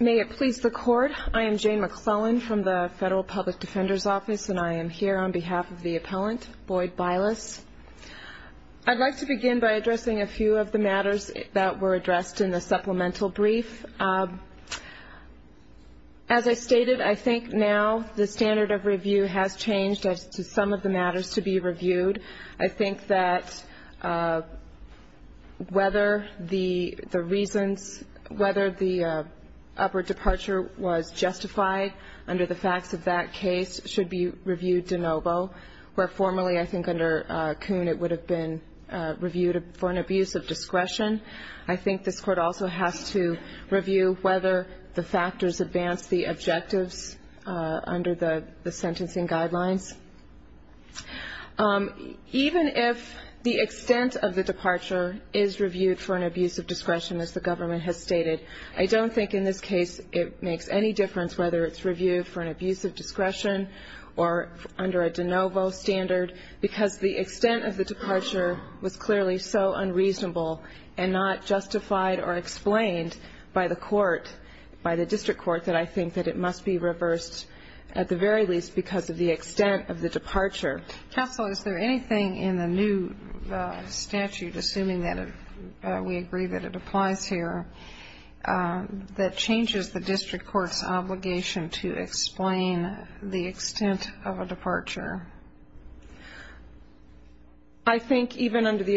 May it please the Court, I am Jane McClellan from the Federal Public Defender's Office and I am here on behalf of the appellant, Boyd Bylas. I'd like to begin by addressing a few of the matters that were addressed in the supplemental brief. As I stated, I think now the standard of review has changed as to some of the matters to be reviewed. I think that whether the reasons, whether the upward departure was justified under the facts of that case should be reviewed de novo, where formerly I think under Coon it would have been reviewed for an abuse of discretion. I think this Court also has to review whether the factors advance the objectives under the sentencing guidelines. Even if the extent of the departure is reviewed for an abuse of discretion as the government has stated, I don't think in this case it makes any difference whether it's reviewed for an abuse of discretion or under a de novo standard because the extent of the departure was clearly so unreasonable and not justified or explained by the court, by the district court, that I think that it must be reversed at the very least because of the extent of the departure. Counsel, is there anything in the new statute, assuming that we agree that it applies here, that changes the district court's obligation to explain the extent of a departure? I think even under the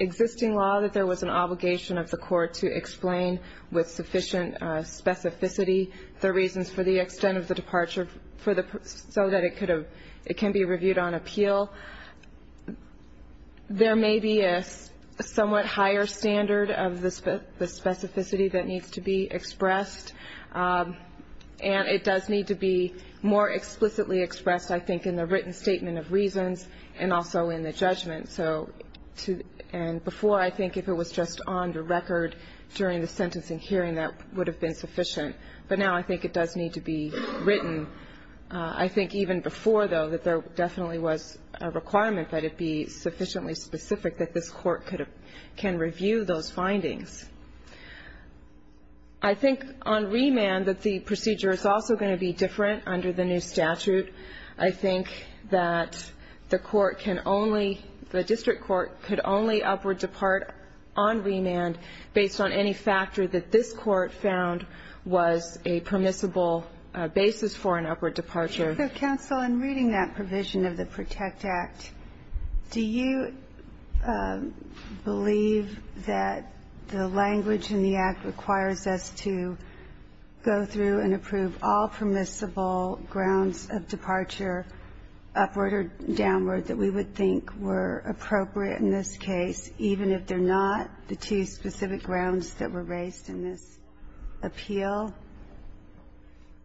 existing law that there was an obligation of the court to explain with sufficient specificity the reasons for the extent of the departure so that it can be reviewed on appeal. There may be a somewhat higher standard of the specificity that needs to be expressed, and it does need to be more explicitly expressed, I think, in the written statement of reasons and also in the judgment. And before, I think if it was just on the record during the sentencing hearing, that would have been sufficient. But now I think it does need to be written. I think even before, though, that there definitely was a requirement that it be sufficiently specific that this Court can review those findings. I think on remand that the procedure is also going to be different under the new statute. I think that the court can only, the district court could only upward depart on remand based on any factor that this Court found was a permissible basis for an upward departure. Counsel, in reading that provision of the PROTECT Act, do you believe that the language in the Act requires us to go through and approve all permissible grounds of departure upward or downward that we would think were appropriate in this case, even if they're not the two specific grounds that were raised in this appeal?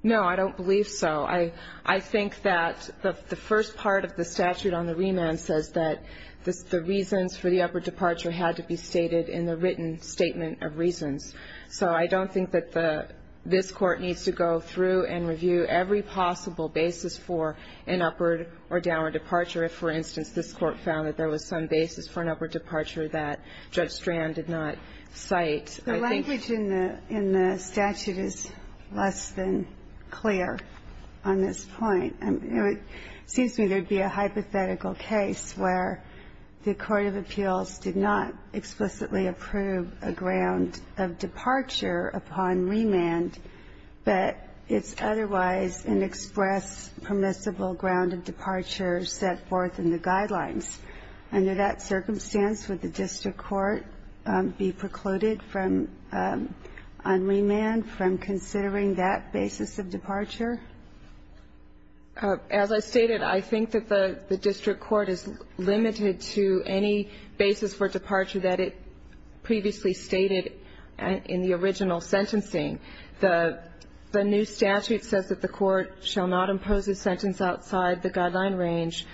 No, I don't believe so. I think that the first part of the statute on the remand says that the reasons for the upward departure had to be stated in the written statement of reasons. So I don't think that this Court needs to go through and review every possible basis for an upward or downward departure. If, for instance, this Court found that there was some basis for an upward departure that Judge Strand did not cite. The language in the statute is less than clear on this point. It seems to me there would be a hypothetical case where the court of appeals did not explicitly approve a ground of departure upon remand, but it's otherwise an express permissible ground of departure set forth in the guidelines. Under that circumstance, would the district court be precluded on remand from considering that basis of departure? As I stated, I think that the district court is limited to any basis for departure that it previously stated in the original sentencing. The new statute says that the court shall not impose a sentence outside the guideline range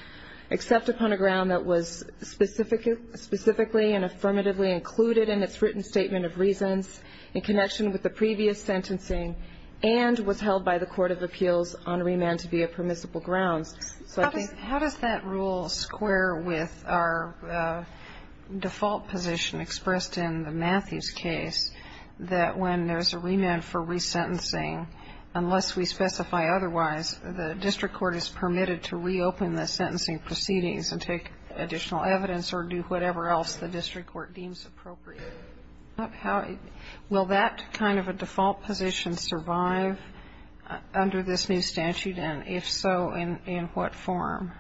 except upon a ground that was specifically and affirmatively included in its written statement of reasons in connection with the previous sentencing and was held by the court of appeals on remand to be a permissible ground. How does that rule square with our default position expressed in the Matthews case that when there's a remand for resentencing, unless we specify otherwise, the district court is permitted to reopen the sentencing proceedings and take additional evidence or do whatever else the district court deems appropriate? Will that kind of a default position survive under this new statute, and if so, in what form?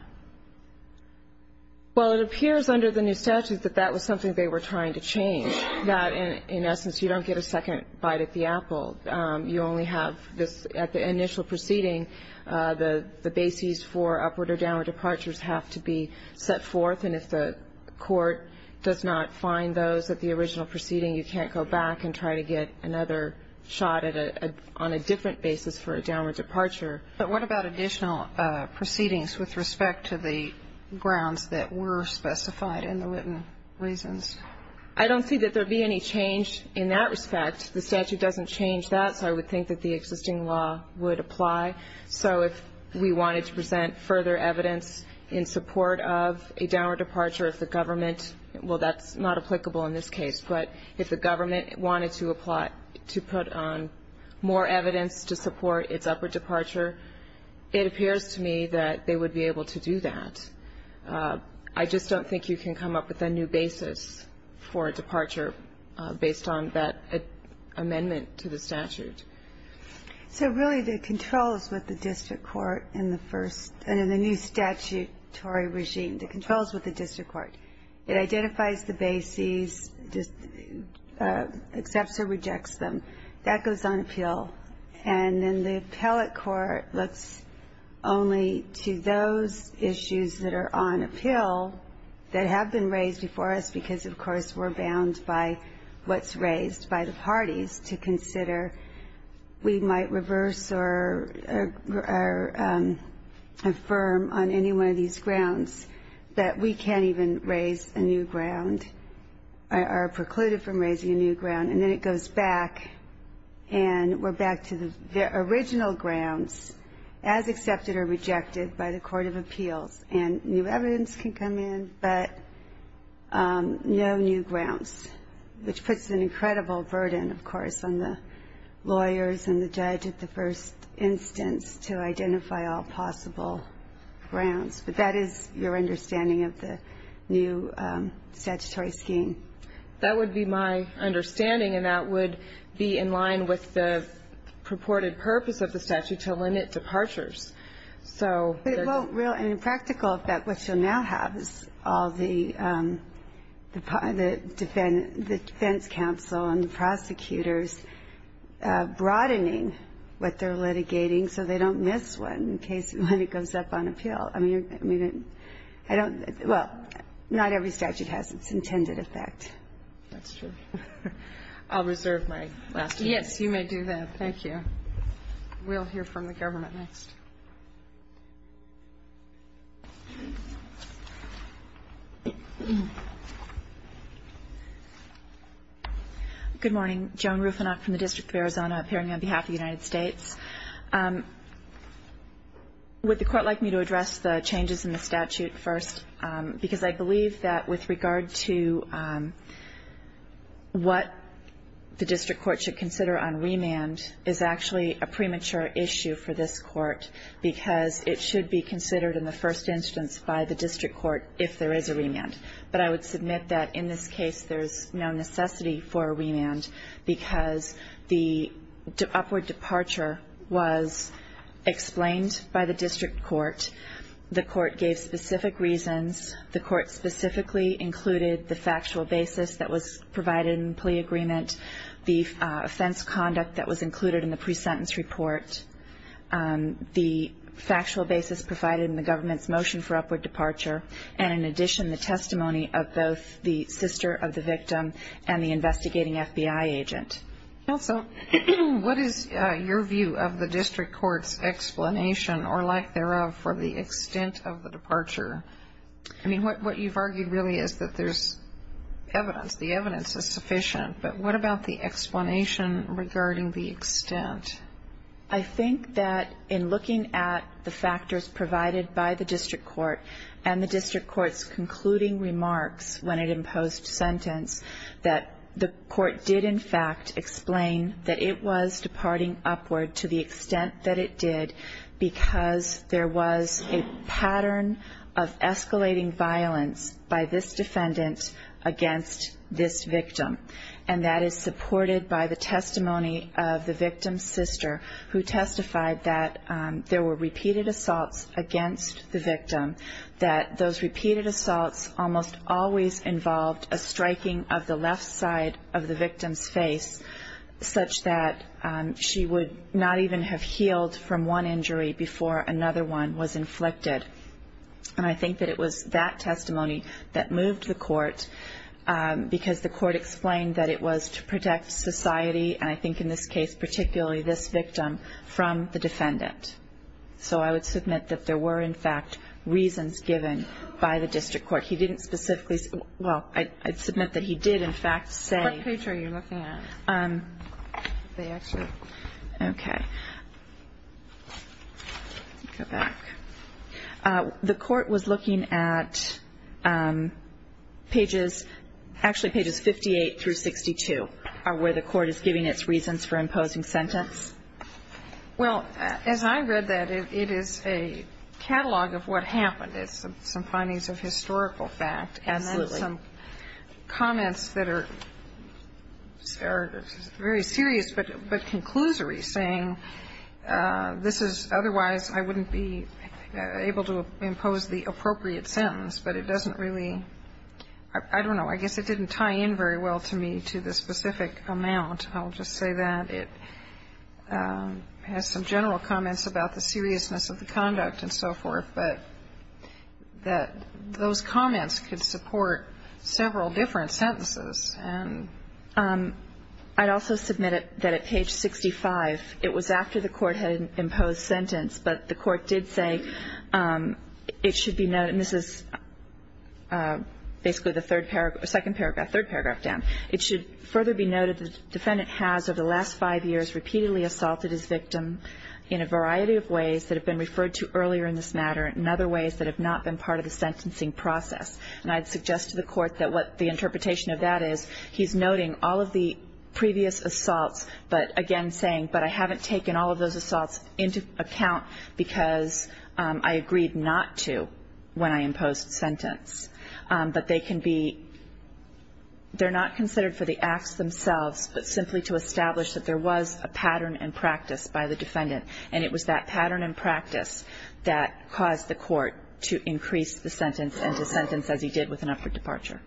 Well, it appears under the new statute that that was something they were trying to change, that in essence you don't get a second bite at the apple. You only have this at the initial proceeding. The basis for upward or downward departures have to be set forth, and if the court does not find those at the original proceeding, you can't go back and try to get another shot at it on a different basis for a downward departure. But what about additional proceedings with respect to the grounds that were specified in the written reasons? I don't see that there would be any change in that respect. The statute doesn't change that, so I would think that the existing law would apply. So if we wanted to present further evidence in support of a downward departure, if the government – well, that's not applicable in this case, but if the government wanted to apply – to put on more evidence to support its upward departure, it appears to me that they would be able to do that. I just don't think you can come up with a new basis for a departure based on that amendment to the statute. So really the control is with the district court in the first – in the new statutory regime. The control is with the district court. It identifies the bases, accepts or rejects them. That goes on appeal. And then the appellate court looks only to those issues that are on appeal that have been raised before us, because, of course, we're bound by what's raised by the parties, to consider we might reverse or affirm on any one of these grounds that we can't even raise a new ground or are precluded from raising a new ground. And then it goes back, and we're back to the original grounds as accepted or rejected by the court of appeals. And new evidence can come in, but no new grounds, which puts an incredible burden, of course, on the lawyers and the judge at the first instance to identify all possible grounds. But that is your understanding of the new statutory scheme. That would be my understanding, and that would be in line with the purported purpose of the statute to limit departures. So they're going to do that. But it won't really. And in practical effect, what you'll now have is all the defense counsel and the prosecutors broadening what they're litigating so they don't miss one in case one goes up on appeal. I mean, I don't – well, not every statute has its intended effect. That's true. I'll reserve my last minute. Yes, you may do that. Thank you. We'll hear from the government next. Joan Rufinoff. Good morning. Joan Rufinoff from the District of Arizona appearing on behalf of the United States. Would the Court like me to address the changes in the statute first? Because I believe that with regard to what the district court should consider on remand is actually a premature issue for this court, because it should be considered in the first instance by the district court if there is a remand. But I would submit that in this case there's no necessity for a remand because the upward departure was explained by the district court. The court gave specific reasons. The court specifically included the factual basis that was provided in plea agreement, the offense conduct that was included in the pre-sentence report, the factual basis provided in the government's motion for upward departure, and in addition the testimony of both the sister of the victim and the investigating FBI agent. So what is your view of the district court's explanation or lack thereof for the extent of the departure? I mean, what you've argued really is that there's evidence. The evidence is sufficient. But what about the explanation regarding the extent? I think that in looking at the factors provided by the district court and the district court's concluding remarks when it imposed sentence, that the court did in fact explain that it was departing upward to the extent that it did because there was a pattern of escalating violence by this defendant against this victim. And that is supported by the testimony of the victim's sister, who testified that there were repeated assaults against the victim, that those repeated assaults almost always involved a striking of the left side of the victim's face such that she would not even have healed from one injury before another one was inflicted. And I think that it was that testimony that moved the court because the court explained that it was to protect society, and I think in this case particularly this victim, from the defendant. So I would submit that there were in fact reasons given by the district court. He didn't specifically – well, I'd submit that he did in fact say – They actually – okay. Go back. The court was looking at pages – actually pages 58 through 62 are where the court is giving its reasons for imposing sentence. Well, as I read that, it is a catalog of what happened. It's some findings of historical fact. Absolutely. It has some comments that are very serious but conclusory, saying this is otherwise I wouldn't be able to impose the appropriate sentence, but it doesn't really – I don't know. I guess it didn't tie in very well to me to the specific amount. I'll just say that. It has some general comments about the seriousness of the conduct and so forth, but that those comments could support several different sentences. I'd also submit that at page 65, it was after the court had imposed sentence, but the court did say it should be noted – and this is basically the second paragraph, third paragraph down. It should further be noted the defendant has over the last five years repeatedly assaulted his victim in a variety of ways that have been referred to earlier in this matter and other ways that have not been part of the sentencing process. And I'd suggest to the court that what the interpretation of that is, he's noting all of the previous assaults, but again saying, but I haven't taken all of those assaults into account because I agreed not to when I imposed sentence. But they can be – they're not considered for the acts themselves, but simply to establish that there was a pattern and practice by the defendant. And it was that pattern and practice that caused the court to increase the sentence and to sentence as he did with an upward departure.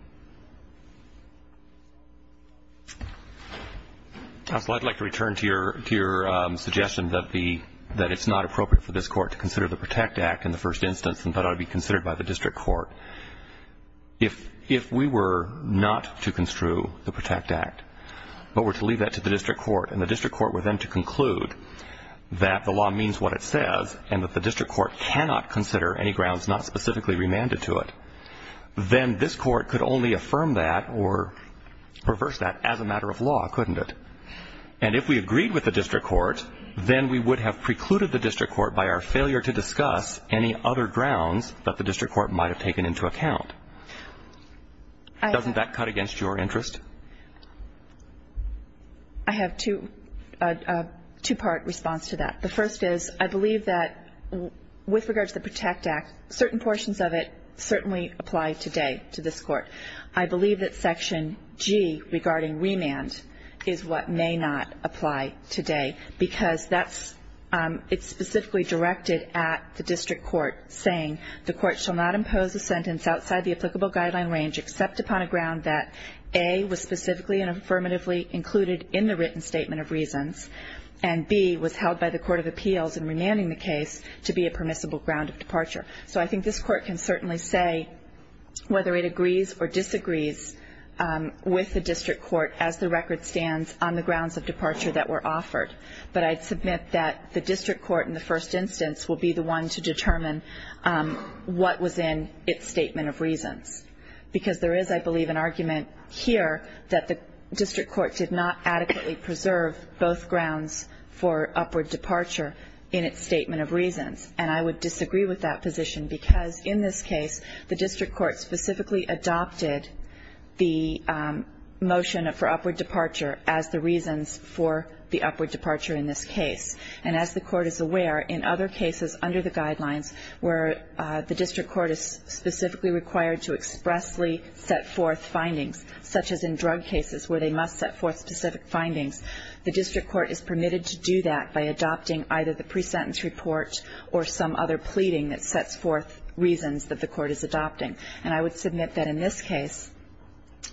Counsel, I'd like to return to your suggestion that the – that it's not appropriate for this court to consider the Protect Act in the first instance and thought it ought to be considered by the district court. If we were not to construe the Protect Act, but were to leave that to the district court and the district court were then to conclude that the law means what it says and that the district court cannot consider any grounds not specifically remanded to it, then this court could only affirm that or reverse that as a matter of law, couldn't it? And if we agreed with the district court, then we would have precluded the district court by our failure to discuss any other grounds that the district court might have taken into account. Doesn't that cut against your interest? I have a two-part response to that. The first is I believe that with regard to the Protect Act, certain portions of it certainly apply today to this court. I believe that Section G regarding remand is what may not apply today because that's – it's specifically directed at the district court saying the court shall not impose a sentence outside the applicable guideline range except upon a ground that A, was specifically and affirmatively included in the written statement of reasons and B, was held by the court of appeals in remanding the case to be a permissible ground of departure. So I think this court can certainly say whether it agrees or disagrees with the district court as the record stands on the grounds of departure that were offered. But I'd submit that the district court in the first instance will be the one to determine what was in its statement of reasons because there is, I believe, an argument here that the district court did not adequately preserve both grounds for upward departure in its statement of reasons. And I would disagree with that position because in this case, the district court specifically adopted the motion for upward departure as the reasons for the upward departure in this case. And as the court is aware, in other cases under the guidelines where the district court is specifically required to expressly set forth findings, such as in drug cases where they must set forth specific findings, the district court is permitted to do that by adopting either the pre-sentence report or some other pleading that sets forth reasons that the court is adopting. And I would submit that in this case,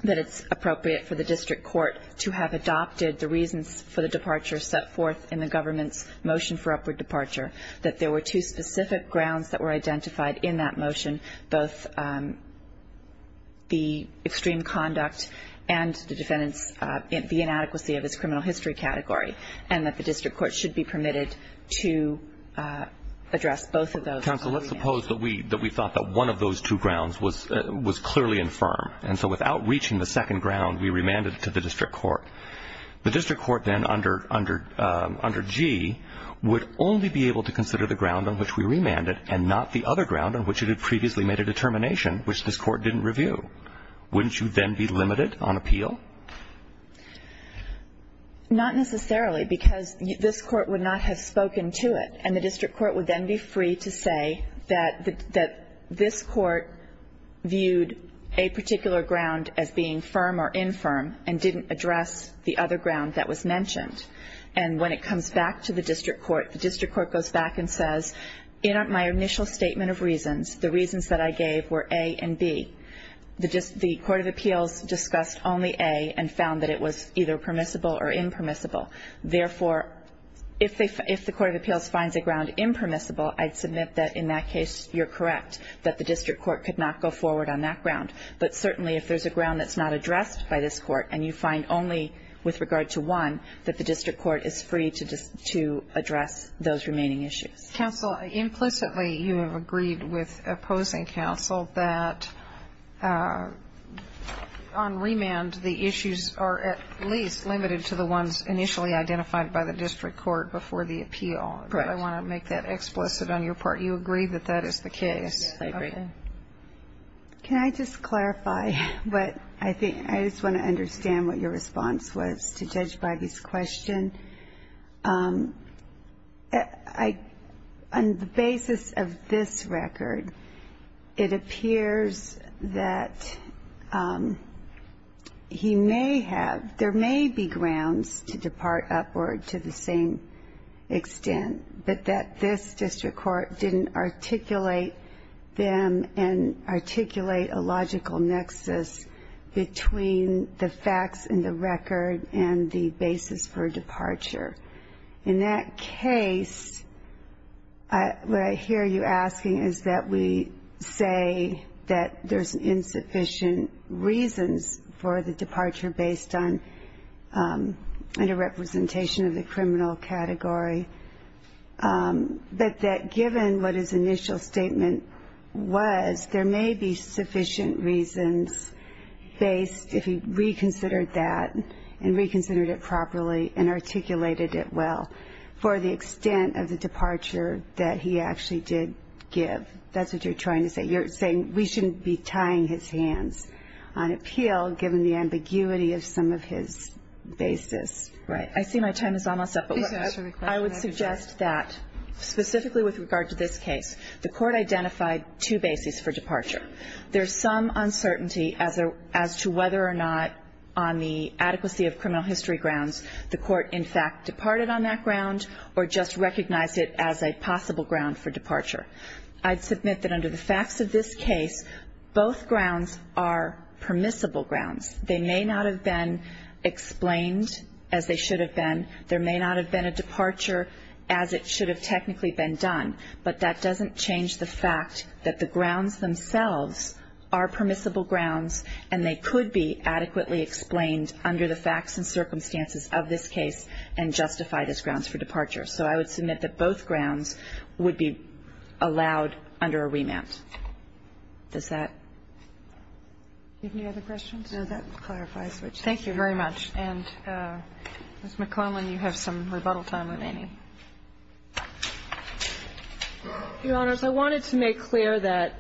that it's appropriate for the district court to have adopted the reasons for the departure set forth in the government's motion for upward departure, that there were two specific grounds that were identified in that motion, both the extreme conduct and the defendant's, the inadequacy of his criminal history category, and that the district court should be permitted to address both of those. Counsel, let's suppose that we thought that one of those two grounds was clearly infirm, and so without reaching the second ground, we remanded it to the district court. The district court then under G would only be able to consider the ground on which we remanded and not the other ground on which it had previously made a determination which this court didn't review. Wouldn't you then be limited on appeal? Not necessarily, because this court would not have spoken to it, and the district court would then be free to say that this court viewed a particular ground as being firm or infirm and didn't address the other ground that was mentioned. And when it comes back to the district court, the district court goes back and says, in my initial statement of reasons, the reasons that I gave were A and B. The court of appeals discussed only A and found that it was either permissible or impermissible. Therefore, if the court of appeals finds a ground impermissible, I'd submit that in that case you're correct, that the district court could not go forward on that ground. But certainly if there's a ground that's not addressed by this court and you find only with regard to one, that the district court is free to address those remaining implicitly, you have agreed with opposing counsel that on remand, the issues are at least limited to the ones initially identified by the district court before the appeal. Correct. I want to make that explicit on your part. You agree that that is the case? Yes, I agree. Okay. Can I just clarify what I think? I just want to understand what your response was to Judge Bybee's question. On the basis of this record, it appears that he may have, there may be grounds to depart upward to the same extent, but that this district court didn't articulate them and articulate a logical nexus between the facts in the record and the basis for the departure. In that case, what I hear you asking is that we say that there's insufficient reasons for the departure based on underrepresentation of the criminal category, but that given what his initial statement was, there may be sufficient reasons based, if he articulated it well, for the extent of the departure that he actually did give. That's what you're trying to say. You're saying we shouldn't be tying his hands on appeal, given the ambiguity of some of his basis. Right. I see my time is almost up, but I would suggest that specifically with regard to this case, the court identified two bases for departure. There's some uncertainty as to whether or not on the adequacy of criminal history grounds the court, in fact, departed on that ground or just recognized it as a possible ground for departure. I'd submit that under the facts of this case, both grounds are permissible grounds. They may not have been explained as they should have been. There may not have been a departure as it should have technically been done, but that doesn't change the fact that the grounds themselves are permissible grounds, and they could be adequately explained under the facts and circumstances of this case and justified as grounds for departure. So I would submit that both grounds would be allowed under a remand. Does that give you other questions? No, that clarifies what you said. Thank you very much. And, Ms. McClellan, you have some rebuttal time remaining. Your Honors, I wanted to make clear that,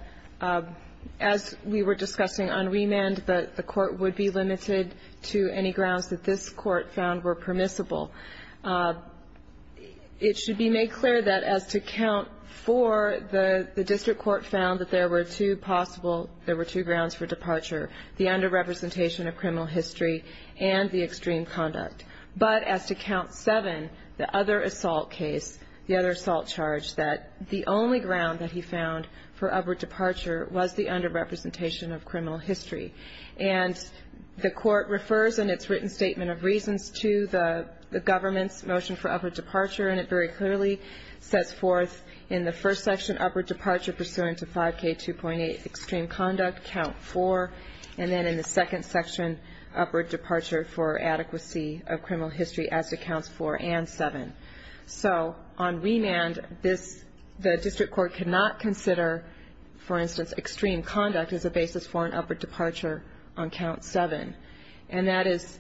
as we were discussing on remand, that the court would be limited to any grounds that this court found were permissible. It should be made clear that as to count four, the district court found that there were two possible, there were two grounds for departure, the underrepresentation of criminal history and the extreme conduct. But as to count seven, the other assault case, the other assault charge, that the only ground that he found for upward departure was the underrepresentation of criminal history. And the court refers in its written statement of reasons to the government's motion for upward departure, and it very clearly sets forth in the first section upward departure pursuant to 5K2.8 extreme conduct, count four, and then in the criminal history as to counts four and seven. So on remand, the district court cannot consider, for instance, extreme conduct as a basis for an upward departure on count seven. And that is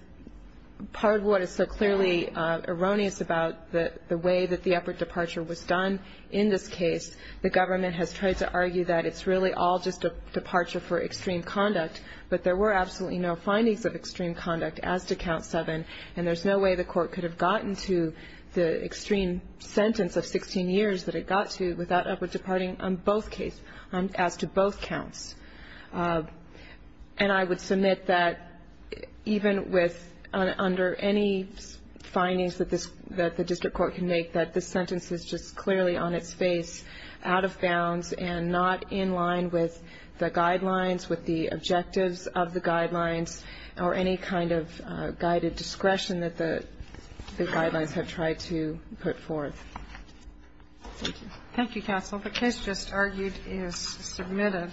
part of what is so clearly erroneous about the way that the upward departure was done in this case. The government has tried to argue that it's really all just a departure for extreme conduct, but there were absolutely no findings of extreme conduct as to count seven, and there's no way the court could have gotten to the extreme sentence of 16 years that it got to without upward departing on both cases, as to both counts. And I would submit that even with under any findings that this the district court can make, that this sentence is just clearly on its face, out of bounds, and not in line with the guidelines, with the objectives of the guidelines, or any kind of guided discretion that the guidelines have tried to put forth. Thank you. Thank you, counsel. The case just argued is submitted.